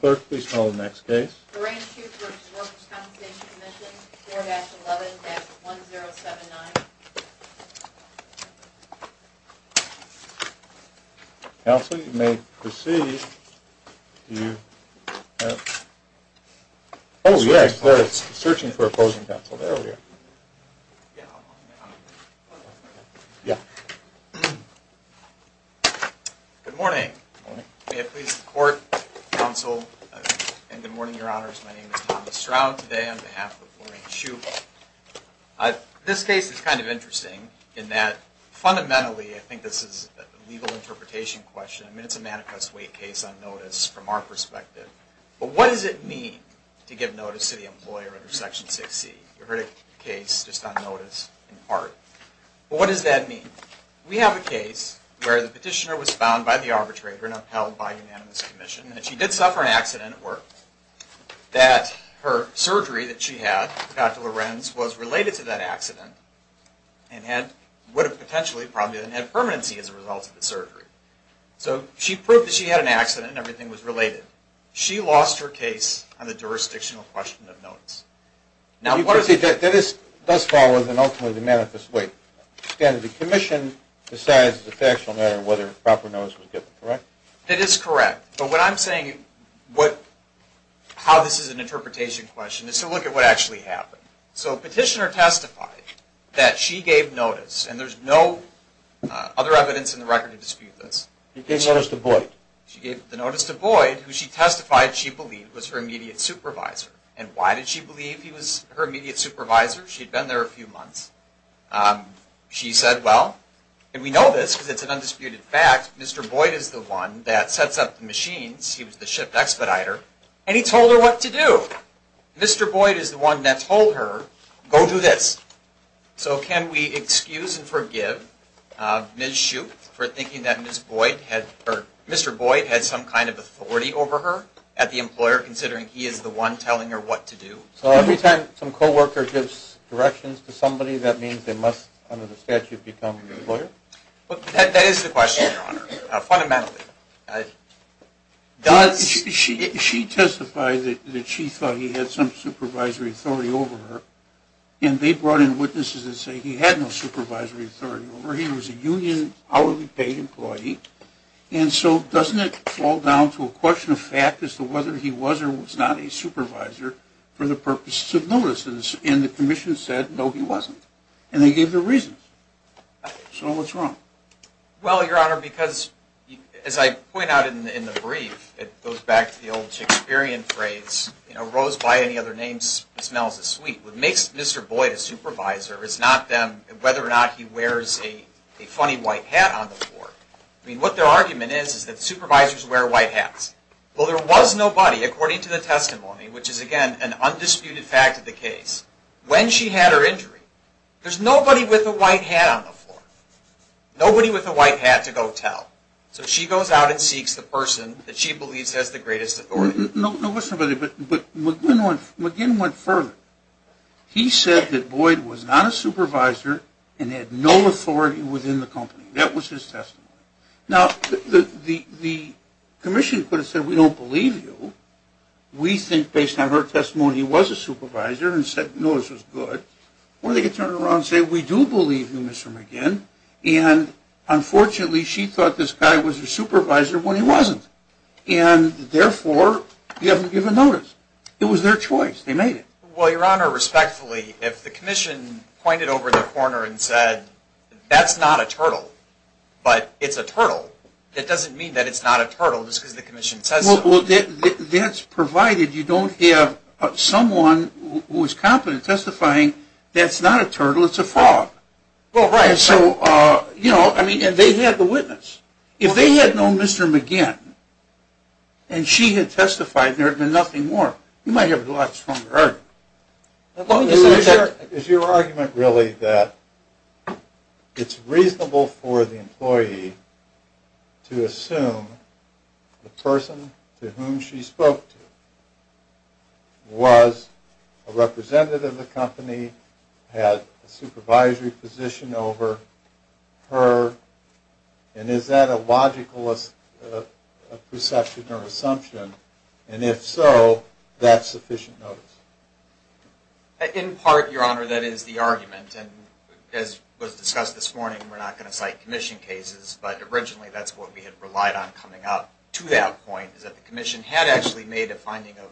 Clerk, please call the next case. Lorraine Soop v. Workers' Compensation Comm'n, 4-11-1079. Counsel, you may proceed. Oh, yes, they're searching for opposing counsel. There we are. Good morning. Good morning. May it please the Court, Counsel, and good morning, Your Honors. My name is Thomas Stroud. Today, on behalf of Lorraine Soop, this case is kind of interesting in that, fundamentally, I think this is a legal interpretation question. I mean, it's a manicus weight case on notice from our perspective. But what does it mean to give notice to the employer under Section 6C? You heard a case just on notice in part. But what does that mean? We have a case where the petitioner was found by the arbitrator and upheld by unanimous commission. And she did suffer an accident at work. That her surgery that she had, Dr. Lorenz, was related to that accident and would have potentially, probably, then had permanency as a result of the surgery. So she proved that she had an accident and everything was related. She lost her case on the jurisdictional question of notice. Now, what is it that this does follow as an ultimately manifest weight? Again, the commission decides as a factual matter whether proper notice was given, correct? That is correct. But what I'm saying, how this is an interpretation question, is to look at what actually happened. So petitioner testified that she gave notice, and there's no other evidence in the record to dispute this. She gave notice to Boyd. She gave the notice to Boyd, who she testified she believed was her immediate supervisor. And why did she believe he was her immediate supervisor? She'd been there a few months. She said, well, and we know this because it's an undisputed fact, Mr. Boyd is the one that sets up the machines. He was the ship expediter. And he told her what to do. Mr. Boyd is the one that told her, go do this. So can we excuse and forgive Ms. Shoup for thinking that Mr. Boyd had some kind of authority over her at the employer, considering he is the one telling her what to do? So every time some co-worker gives directions to somebody, that means they must, under the statute, become an employer? That is the question, Your Honor, fundamentally. She testified that she thought he had some supervisory authority over her. And they brought in witnesses that say he had no supervisory authority over her. He was a union hourly paid employee. And so doesn't it fall down to a question of fact as to whether he was or was not a supervisor for the purposes of notices? And the commission said, no, he wasn't. And they gave their reasons. So what's wrong? Well, Your Honor, because as I point out in the brief, it goes back to the old Shakespearean phrase, you know, rose by any other name smells as sweet. What makes Mr. Boyd a supervisor is not whether or not he wears a funny white hat on the floor. I mean, what their argument is, is that supervisors wear white hats. Well, there was nobody, according to the testimony, which is, again, an undisputed fact of the case, when she had her injury. There's nobody with a white hat on the floor. Nobody with a white hat to go tell. So she goes out and seeks the person that she believes has the greatest authority. No, there was nobody. But McGinn went further. He said that Boyd was not a supervisor and had no authority within the company. That was his testimony. Now, the commission could have said, we don't believe you. We think, based on her testimony, he was a supervisor and said, no, this was good. Or they could turn around and say, we do believe you, Mr. McGinn. And, unfortunately, she thought this guy was a supervisor when he wasn't. And, therefore, you haven't given notice. It was their choice. They made it. Well, Your Honor, respectfully, if the commission pointed over the corner and said, that's not a turtle, but it's a turtle, that doesn't mean that it's not a turtle, just because the commission says so. Well, that's provided you don't have someone who is competent in testifying that's not a turtle, it's a frog. Well, right. So, you know, I mean, and they had the witness. If they had known Mr. McGinn and she had testified, there would have been nothing more. You might have a lot stronger argument. Is your argument really that it's reasonable for the employee to assume the person to whom she spoke to was a representative of the company, had a supervisory position over her, and is that a logical perception or assumption? And, if so, that's sufficient notice. In part, Your Honor, that is the argument. And, as was discussed this morning, we're not going to cite commission cases, but originally that's what we had relied on coming up to that point, is that the commission had actually made a finding of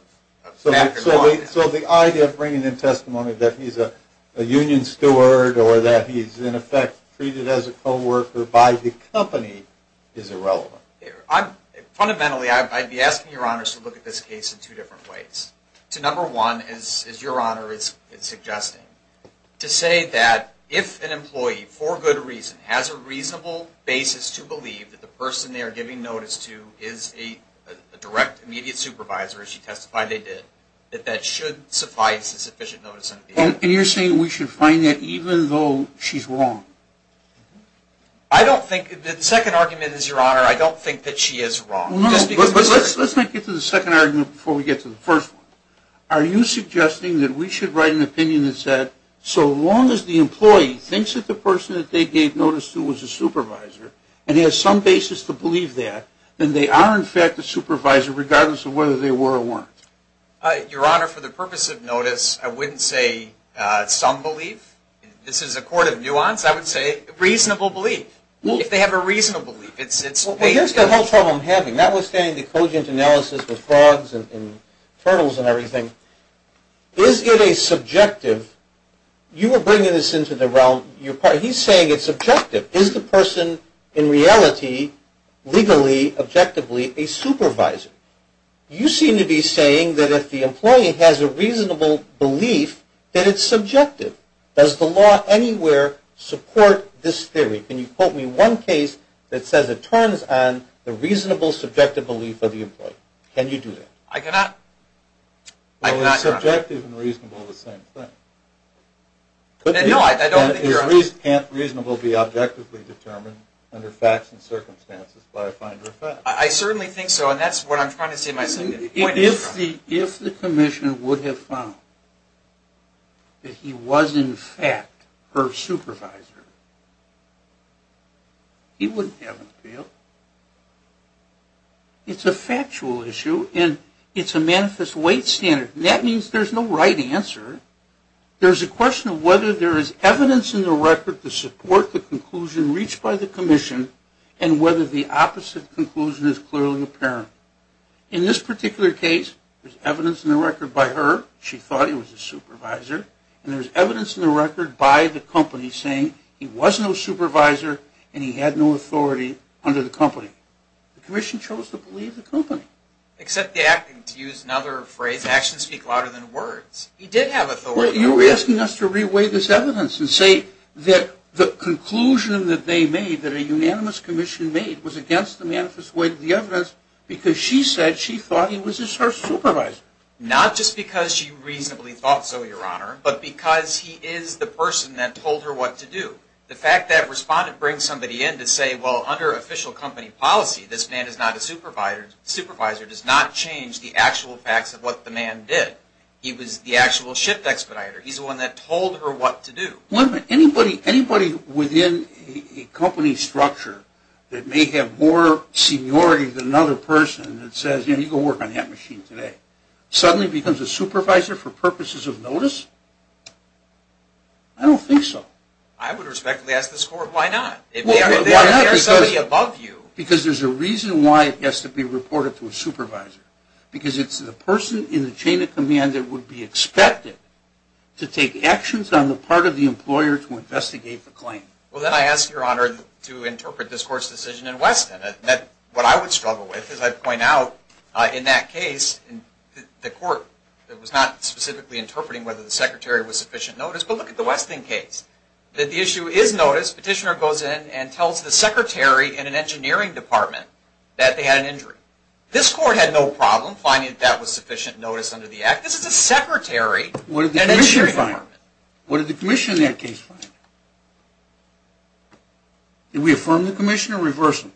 an afterthought. So the idea of bringing in testimony that he's a union steward or that he's, in effect, treated as a co-worker by the company is irrelevant. Fundamentally, I'd be asking Your Honor to look at this case in two different ways. Number one, as Your Honor is suggesting, to say that if an employee, for good reason, has a reasonable basis to believe that the person they are giving notice to is a direct, immediate supervisor, as she testified they did, that that should suffice as sufficient notice. And you're saying we should find that even though she's wrong? I don't think, the second argument is, Your Honor, I don't think that she is wrong. No, but let's not get to the second argument before we get to the first one. Are you suggesting that we should write an opinion that said, so long as the employee thinks that the person that they gave notice to was a supervisor and has some basis to believe that, then they are, in fact, a supervisor regardless of whether they were or weren't. Your Honor, for the purpose of notice, I wouldn't say some believe. This is a court of nuance. I would say reasonable belief. If they have a reasonable belief. Here's the whole problem I'm having, notwithstanding the cogent analysis with frogs and turtles and everything. Is it a subjective, you were bringing this into the realm, he's saying it's subjective. Is the person, in reality, legally, objectively, a supervisor? You seem to be saying that if the employee has a reasonable belief, that it's subjective. Does the law anywhere support this theory? Can you quote me one case that says it turns on the reasonable, subjective belief of the employee? Can you do that? I cannot, Your Honor. Well, is subjective and reasonable the same thing? No, I don't think Your Honor. Can't reasonable be objectively determined under facts and circumstances by a finder of facts? I certainly think so, and that's what I'm trying to say in my second point. If the commissioner would have found that he was, in fact, her supervisor, he wouldn't have an appeal. It's a factual issue, and it's a manifest weight standard, and that means there's no right answer. There's a question of whether there is evidence in the record to support the conclusion reached by the commission, and whether the opposite conclusion is clearly apparent. In this particular case, there's evidence in the record by her. She thought he was a supervisor, and there's evidence in the record by the company saying he was no supervisor, and he had no authority under the company. The commission chose to believe the company. Except the acting, to use another phrase, actions speak louder than words. He did have authority. Well, you're asking us to re-weigh this evidence and say that the conclusion that they made, that a unanimous commission made, was against the manifest weight of the evidence because she said she thought he was her supervisor. Not just because she reasonably thought so, Your Honor, but because he is the person that told her what to do. The fact that a respondent brings somebody in to say, well, under official company policy, this man is not a supervisor does not change the actual facts of what the man did. He was the actual shift expediter. He's the one that told her what to do. Wait a minute. Anybody within a company structure that may have more seniority than another person that says, you know, you go work on that machine today, suddenly becomes a supervisor for purposes of notice? I don't think so. I would respectfully ask this Court, why not? Why not because there's a reason why it has to be reported to a supervisor. Because it's the person in the chain of command that would be expected to take actions on the part of the employer to investigate the claim. Well, then I ask, Your Honor, to interpret this Court's decision in Weston. What I would struggle with, as I've pointed out, in that case, the Court was not specifically interpreting whether the secretary was sufficient notice. But look at the Weston case. The issue is notice. Petitioner goes in and tells the secretary in an engineering department that they had an injury. This Court had no problem finding that that was sufficient notice under the act. This is a secretary in an engineering department. What did the commission find? What did the commission in that case find? Did we affirm the commission or reverse them?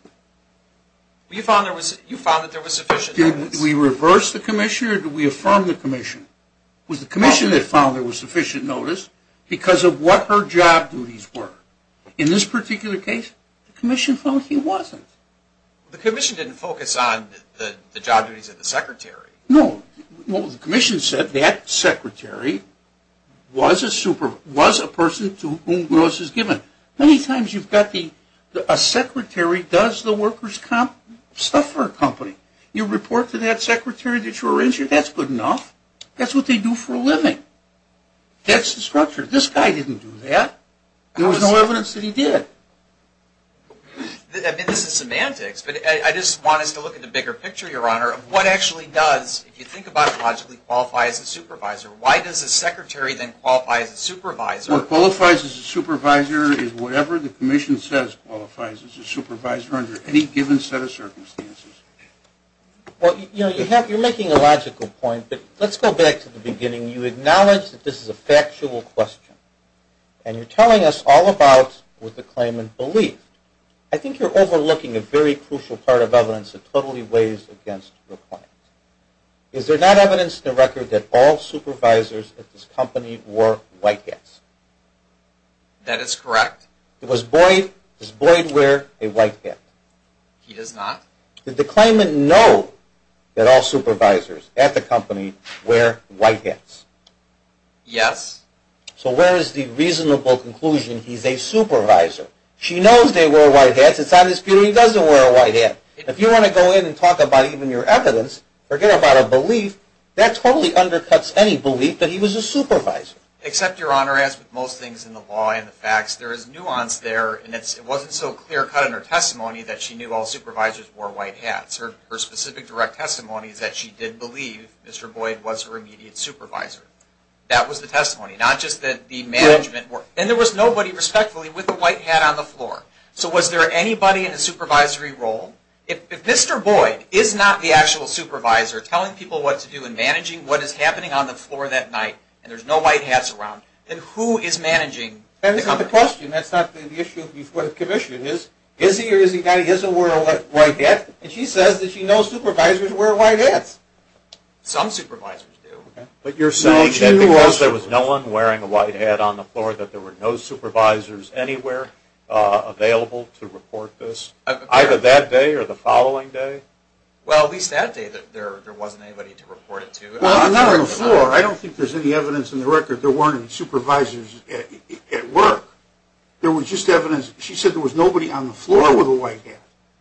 You found that there was sufficient notice. Did we reverse the commissioner or did we affirm the commission? It was the commission that found there was sufficient notice because of what her job duties were. In this particular case, the commission found he wasn't. The commission didn't focus on the job duties of the secretary. No. The commission said that secretary was a person to whom notice was given. Many times you've got a secretary does the workers' stuff for a company. You report to that secretary that you were injured, that's good enough. That's what they do for a living. That's the structure. This guy didn't do that. There was no evidence that he did. What actually does, if you think about it logically, qualify as a supervisor? Why does a secretary then qualify as a supervisor? What qualifies as a supervisor is whatever the commission says qualifies as a supervisor under any given set of circumstances. You're making a logical point, but let's go back to the beginning. You acknowledge that this is a factual question, and you're telling us all about with a claimant belief. I think you're overlooking a very crucial part of evidence that totally weighs against your point. Is there not evidence in the record that all supervisors at this company wore white hats? That is correct. Does Boyd wear a white hat? He does not. Did the claimant know that all supervisors at the company wear white hats? Yes. So where is the reasonable conclusion he's a supervisor? She knows they wear white hats. It's not as if he doesn't wear a white hat. If you want to go in and talk about even your evidence, forget about a belief, that totally undercuts any belief that he was a supervisor. Except, Your Honor, as with most things in the law and the facts, there is nuance there, and it wasn't so clear cut in her testimony that she knew all supervisors wore white hats. Her specific direct testimony is that she did believe Mr. Boyd was her immediate supervisor. That was the testimony, not just that the management wore... And there was nobody, respectfully, with a white hat on the floor. So was there anybody in the supervisory role? If Mr. Boyd is not the actual supervisor telling people what to do and managing what is happening on the floor that night, and there's no white hats around, then who is managing the company? That's not the question. That's not the issue. The issue is, is he or is he not? He doesn't wear a white hat, and she says that she knows supervisors wear white hats. Some supervisors do. But you're saying that because there was no one wearing a white hat on the floor that there were no supervisors anywhere available to report this, either that day or the following day? Well, at least that day there wasn't anybody to report it to. Well, I'm not on the floor. I don't think there's any evidence in the record there weren't any supervisors at work. There was just evidence. She said there was nobody on the floor with a white hat.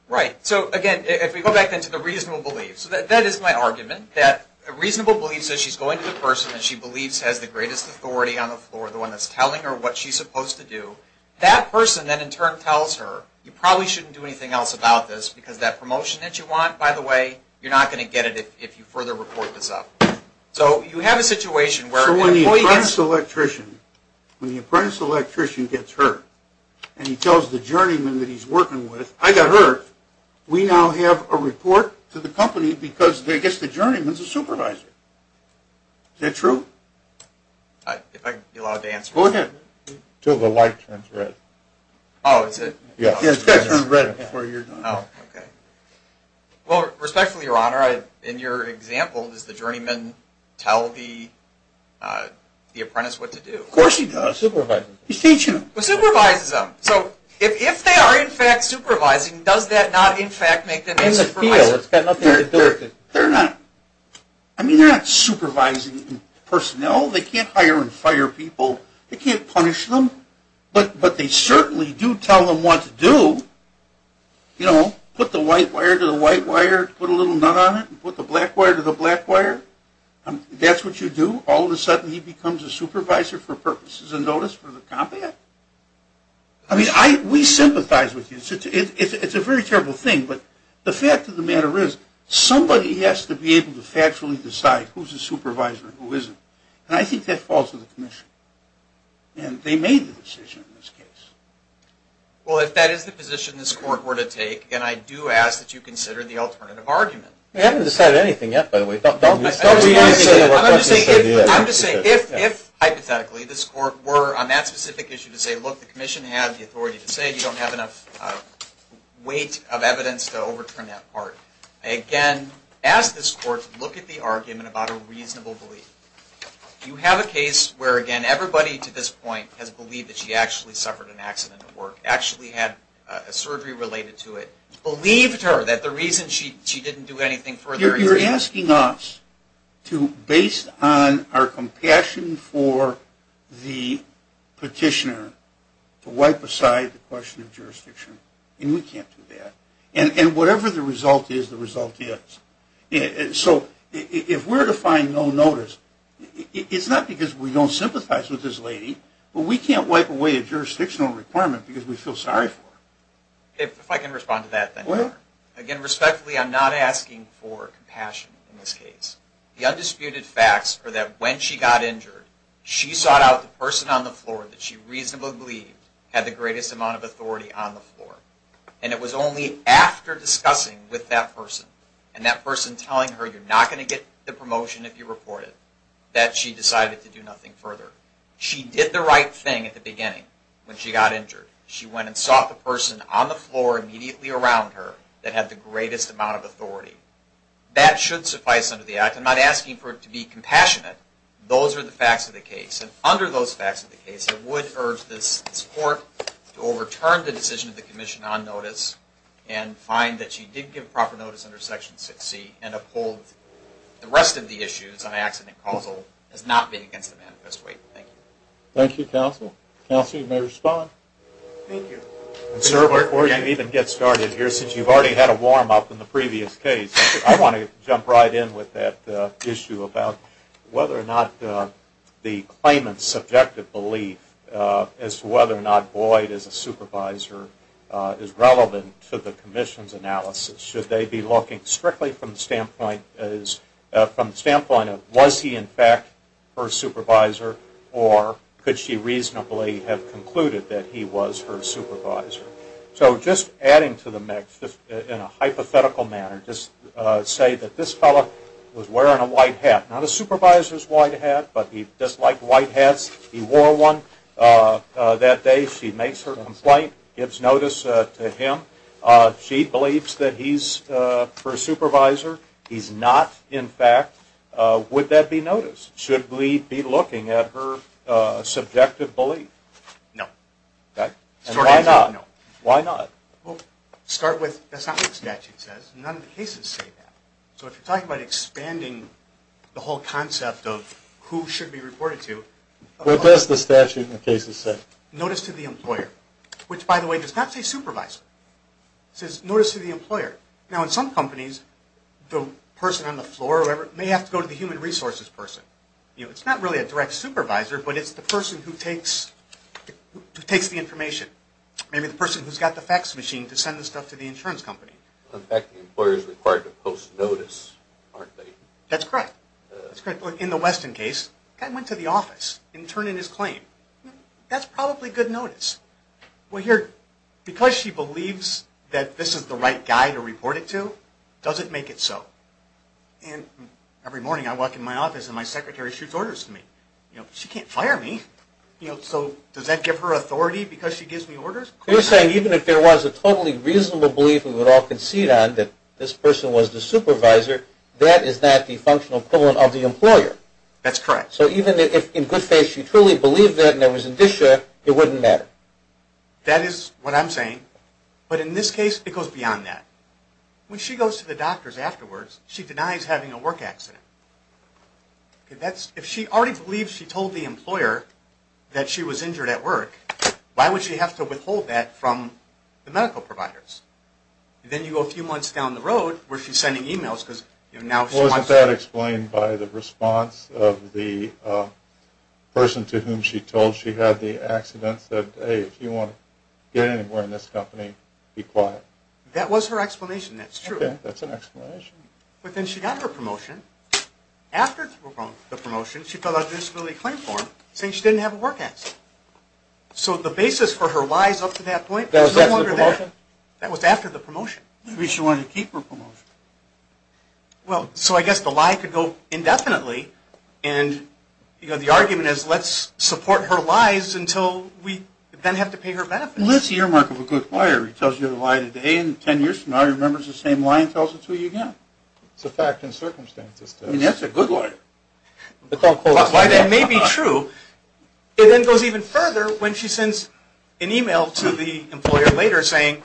Right. So, again, if we go back then to the reasonable beliefs, that is my argument, that a reasonable belief says she's going to the person that she believes has the greatest authority on the floor, the one that's telling her what she's supposed to do, that person then in turn tells her you probably shouldn't do anything else about this because that promotion that you want, by the way, you're not going to get it if you further report this up. So you have a situation where an employee gets... So when the apprentice electrician, when the apprentice electrician gets hurt and he tells the journeyman that he's working with, I got hurt, we now have a report to the company because I guess the journeyman's a supervisor. Is that true? If I can be allowed to answer that. Go ahead until the light turns red. Oh, is it? Yes. It's got to turn red before you're done. Oh, okay. Well, respectfully, Your Honor, in your example, does the journeyman tell the apprentice what to do? Of course he does. He's supervising. He's teaching them. He supervises them. So if they are in fact supervising, does that not in fact make them a supervisor? In the field. It's got nothing to do with it. I mean, they're not supervising personnel. They can't hire and fire people. They can't punish them. But they certainly do tell them what to do. You know, put the white wire to the white wire, put a little nut on it, put the black wire to the black wire. That's what you do. All of a sudden he becomes a supervisor for purposes and notice for the combat. I mean, we sympathize with you. It's a very terrible thing. But the fact of the matter is somebody has to be able to factually decide who's a supervisor and who isn't. And I think that falls to the commission. And they made the decision in this case. Well, if that is the position this Court were to take, then I do ask that you consider the alternative argument. We haven't decided anything yet, by the way. I'm just saying if hypothetically this Court were on that specific issue to say, look, the commission has the authority to say. You don't have enough weight of evidence to overturn that part. Again, ask this Court to look at the argument about a reasonable belief. You have a case where, again, everybody to this point has believed that she actually suffered an accident at work, actually had a surgery related to it, believed her that the reason she didn't do anything further is because of that. You're asking us to, based on our compassion for the petitioner, to wipe aside the question of jurisdiction. And we can't do that. And whatever the result is, the result is. So if we're to find no notice, it's not because we don't sympathize with this lady, but we can't wipe away a jurisdictional requirement because we feel sorry for her. If I can respond to that. Again, respectfully, I'm not asking for compassion in this case. The undisputed facts are that when she got injured, she sought out the person on the floor that she reasonably believed had the greatest amount of authority on the floor. And it was only after discussing with that person and that person telling her, you're not going to get the promotion if you report it, that she decided to do nothing further. She did the right thing at the beginning when she got injured. She went and sought the person on the floor immediately around her that had the greatest amount of authority. That should suffice under the act. I'm not asking for it to be compassionate. Those are the facts of the case. And under those facts of the case, I would urge this court to overturn the decision of the commission on notice and find that she did give proper notice under Section 6C and uphold the rest of the issues on accident and causal as not being against the manifest way. Thank you. Thank you, counsel. Counsel, you may respond. Thank you. And, sir, before you even get started here, since you've already had a warm-up in the previous case, I want to jump right in with that issue about whether or not the claimant's subjective belief as to whether or not Boyd as a supervisor is relevant to the commission's analysis. Should they be looking strictly from the standpoint of was he in fact her supervisor or could she reasonably have concluded that he was her supervisor? So just adding to the mix in a hypothetical manner, just say that this fellow was wearing a white hat, not a supervisor's white hat, but he disliked white hats. He wore one that day. She makes her complaint, gives notice to him. She believes that he's her supervisor. He's not, in fact. Would that be noticed? Should we be looking at her subjective belief? No. And why not? Why not? Well, to start with, that's not what the statute says. None of the cases say that. So if you're talking about expanding the whole concept of who should be reported to. What does the statute in the cases say? Notice to the employer, which, by the way, does not say supervisor. It says notice to the employer. Now, in some companies, the person on the floor or whoever may have to go to the human resources person. It's not really a direct supervisor, but it's the person who takes the information. Maybe the person who's got the fax machine to send the stuff to the insurance company. In fact, the employer is required to post notice, aren't they? That's correct. In the Weston case, the guy went to the office and turned in his claim. That's probably good notice. Well, here, because she believes that this is the right guy to report it to, does it make it so? And every morning I walk in my office and my secretary shoots orders to me. She can't fire me. So does that give her authority because she gives me orders? You're saying even if there was a totally reasonable belief we would all concede on that this person was the supervisor, that is not the functional equivalent of the employer. That's correct. So even if in good faith she truly believed that and there was an issue, it wouldn't matter. That is what I'm saying. But in this case, it goes beyond that. When she goes to the doctors afterwards, she denies having a work accident. If she already believes she told the employer that she was injured at work, why would she have to withhold that from the medical providers? Then you go a few months down the road where she's sending e-mails because now she wants... That was explained by the response of the person to whom she told she had the accident, said, hey, if you want to get anywhere in this company, be quiet. That was her explanation. That's true. Okay. That's an explanation. But then she got her promotion. After the promotion, she filled out a disability claim form saying she didn't have a work accident. So the basis for her lies up to that point was no longer there. That was after the promotion? That was after the promotion. Maybe she wanted to keep her promotion. Well, so I guess the lie could go indefinitely, and the argument is let's support her lies until we then have to pay her benefits. Let's see your mark of a good liar. He tells you a lie today, and 10 years from now, he remembers the same lie and tells it to you again. It's a fact and circumstance. I mean, that's a good liar. That may be true. It then goes even further when she sends an e-mail to the employer later saying,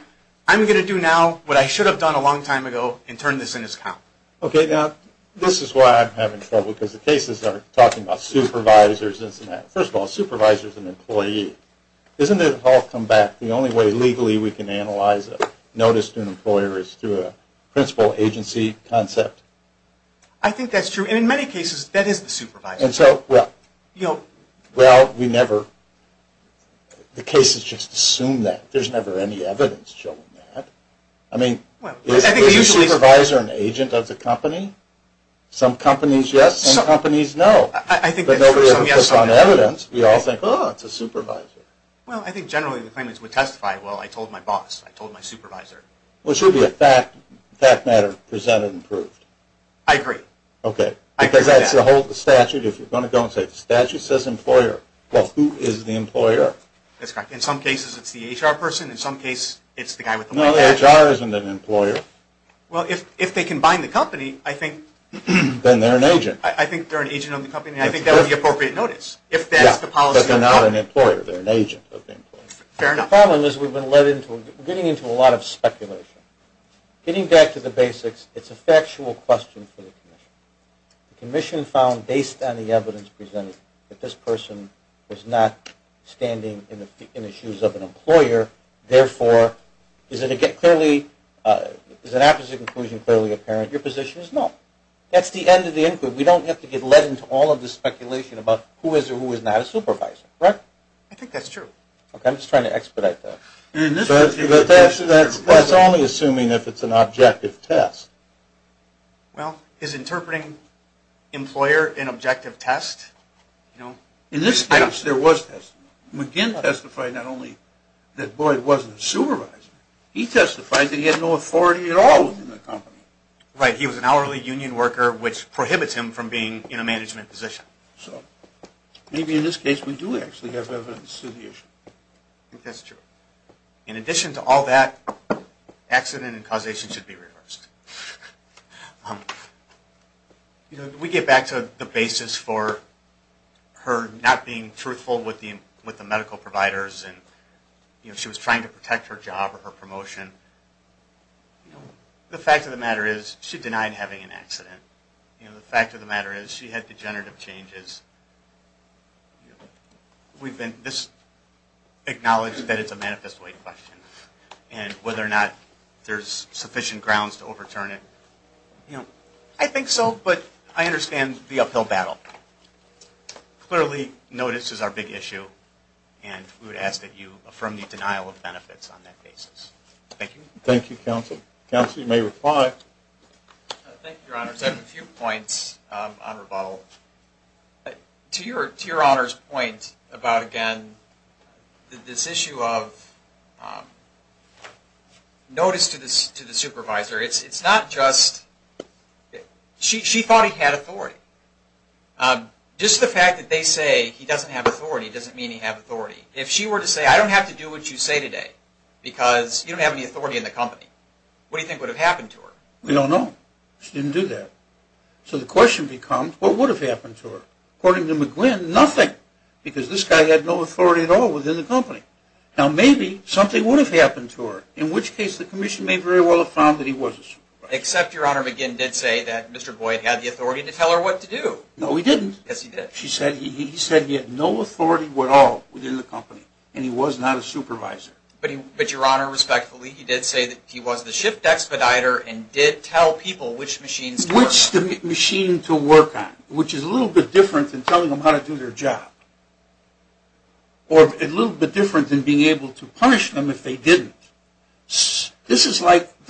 I'm going to do now what I should have done a long time ago and turn this in its count. Okay. Now, this is why I'm having trouble because the cases are talking about supervisors, isn't it? First of all, a supervisor is an employee. Isn't it all come back the only way legally we can analyze a notice to an employer is through a principal agency concept? I think that's true, and in many cases, that is the supervisor. And so, well, we never, the cases just assume that. There's never any evidence showing that. I mean, is the supervisor an agent of the company? Some companies, yes. Some companies, no. But nobody ever puts on evidence. We all think, oh, it's a supervisor. Well, I think generally the claimants would testify, well, I told my boss. I told my supervisor. Well, it should be a fact matter presented and proved. I agree. Okay. Because that's the whole statute. If you're going to go and say the statute says employer, well, who is the employer? That's correct. In some cases, it's the HR person. In some cases, it's the guy with the white hat. No, the HR isn't an employer. Well, if they can bind the company, I think. Then they're an agent. I think they're an agent of the company, and I think that would be appropriate notice. If that's the policy of the company. Yeah, but they're not an employer. They're an agent of the employer. Fair enough. The problem is we've been led into, we're getting into a lot of speculation. Getting back to the basics, it's a factual question for the commission. The commission found, based on the evidence presented, that this person was not standing in the shoes of an employer. Therefore, is it clearly, is an apposite conclusion clearly apparent? Your position is no. That's the end of the inquiry. We don't have to get led into all of the speculation about who is or who is not a supervisor. Correct? I think that's true. Okay. I'm just trying to expedite that. That's only assuming if it's an objective test. Well, is interpreting employer an objective test? In this case, there was testimony. McGinn testified not only that Boyd wasn't a supervisor. He testified that he had no authority at all within the company. Right. He was an hourly union worker, which prohibits him from being in a management position. So, maybe in this case we do actually have evidence to the issue. I think that's true. In addition to all that, accident and causation should be reversed. We get back to the basis for her not being truthful with the medical providers. She was trying to protect her job or her promotion. The fact of the matter is, she denied having an accident. The fact of the matter is, she had degenerative changes. This acknowledges that it's a manifest way question, and whether or not there's sufficient grounds to overturn it. I think so, but I understand the uphill battle. Clearly, notice is our big issue, and we would ask that you affirm the denial of benefits on that basis. Thank you. Thank you, counsel. Counsel, you may reply. Thank you, Your Honors. I have a few points on rebuttal. To Your Honor's point about, again, this issue of notice to the supervisor, it's not just, she thought he had authority. Just the fact that they say he doesn't have authority doesn't mean he has authority. If she were to say, I don't have to do what you say today, because you don't have any authority in the company, what do you think would have happened to her? We don't know. She didn't do that. So the question becomes, what would have happened to her? According to McGuinn, nothing, because this guy had no authority at all within the company. Now, maybe something would have happened to her, in which case the commission may very well have found that he was a supervisor. Except, Your Honor, McGuinn did say that Mr. Boyd had the authority to tell her what to do. No, he didn't. Yes, he did. He said he had no authority at all within the company, and he was not a supervisor. But, Your Honor, respectfully, he did say that he was the shift expediter and did tell people which machines to work on. Which machine to work on, which is a little bit different than telling them how to do their job, or a little bit different than being able to punish them if they didn't. This is like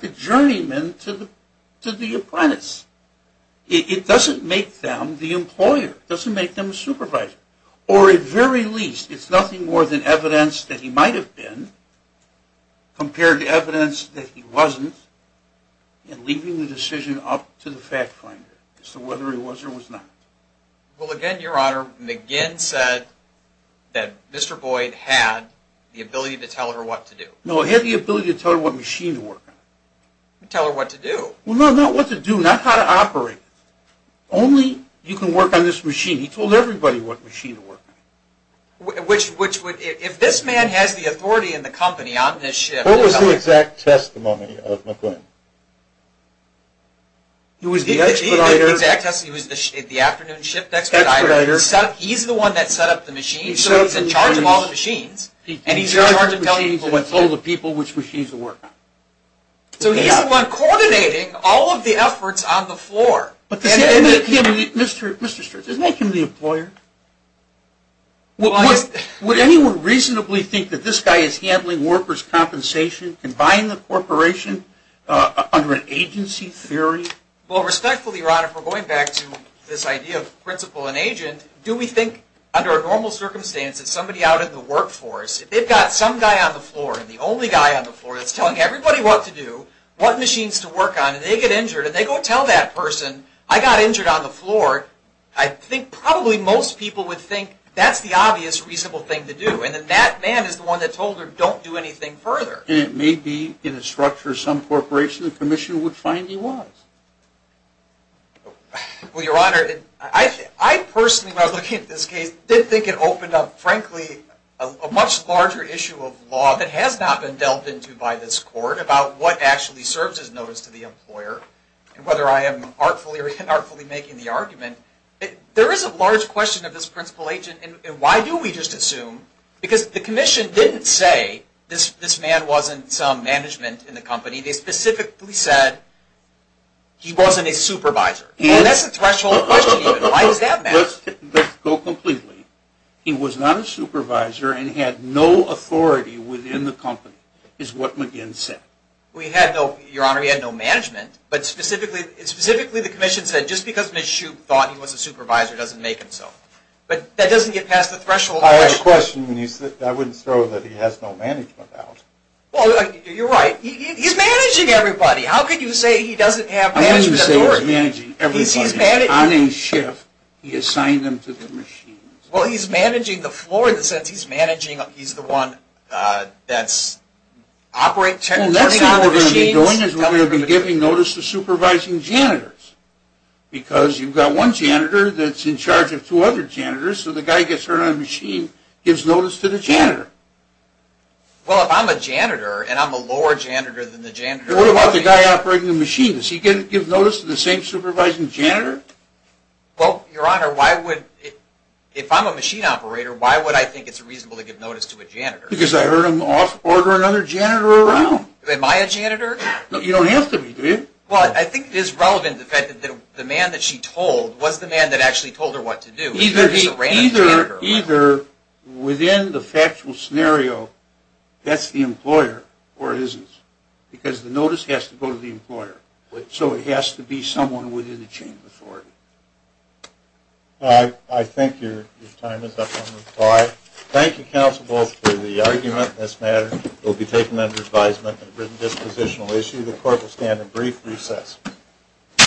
the journeyman to the apprentice. It doesn't make them the employer. It doesn't make them a supervisor. Or at the very least, it's nothing more than evidence that he might have been, compared to evidence that he wasn't, and leaving the decision up to the fact finder as to whether he was or was not. Well, again, Your Honor, McGuinn said that Mr. Boyd had the ability to tell her what to do. No, he had the ability to tell her what machine to work on. Tell her what to do. Well, no, not what to do. Not how to operate it. Only you can work on this machine. He told everybody what machine to work on. Which would, if this man has the authority in the company on this ship. What was the exact testimony of McGuinn? He was the expediter. The exact testimony. He was the afternoon ship expediter. He's the one that set up the machines. So he's in charge of all the machines. And he's in charge of telling people what to do. He told the people which machines to work on. So he's the one coordinating all of the efforts on the floor. Mr. Strickland, isn't that Kim the employer? Would anyone reasonably think that this guy is handling workers' compensation? Combining the corporation under an agency theory? Well, respectfully, Your Honor, if we're going back to this idea of principal and agent, do we think under a normal circumstance that somebody out in the workforce, if they've got some guy on the floor and the only guy on the floor that's telling everybody what to do, what machines to work on, and they get injured, and they go tell that person, I got injured on the floor, I think probably most people would think that's the obvious, reasonable thing to do. And then that man is the one that told her, don't do anything further. And it may be in the structure of some corporation the commission would find he was. Well, Your Honor, I personally, when I look at this case, did think it opened up, frankly, a much larger issue of law that has not been dealt into by this Court about what actually serves as notice to the employer, and whether I am artfully or inartfully making the argument. There is a large question of this principal agent, and why do we just assume? Because the commission didn't say this man wasn't some management in the company. They specifically said he wasn't a supervisor. And that's a threshold question even. Why does that matter? Just to go completely, he was not a supervisor and had no authority within the company, is what McGinn said. We had no, Your Honor, we had no management, but specifically the commission said just because Ms. Shoup thought he was a supervisor doesn't make him so. But that doesn't get past the threshold question. I have a question. I wouldn't throw that he has no management out. Well, you're right. He's managing everybody. How could you say he doesn't have management authority? He's managing everybody. On a shift, he assigned them to the machines. Well, he's managing the floor in the sense he's managing, he's the one that's operating. Well, that's what we're going to be doing is we're going to be giving notice to supervising janitors. Because you've got one janitor that's in charge of two other janitors, so the guy gets turned on the machine, gives notice to the janitor. Well, if I'm a janitor and I'm a lower janitor than the janitor... And what about the guy operating the machine? Does he give notice to the same supervising janitor? Well, Your Honor, if I'm a machine operator, why would I think it's reasonable to give notice to a janitor? Because I heard him order another janitor around. Am I a janitor? No, you don't have to be, do you? Well, I think it is relevant that the man that she told was the man that actually told her what to do. Either within the factual scenario, that's the employer or it isn't. Because the notice has to go to the employer. So it has to be someone within the chain of authority. I think your time is up on reply. Thank you, counsel, both for the argument in this matter. It will be taken under advisement on a written dispositional issue. The court will stand in brief recess.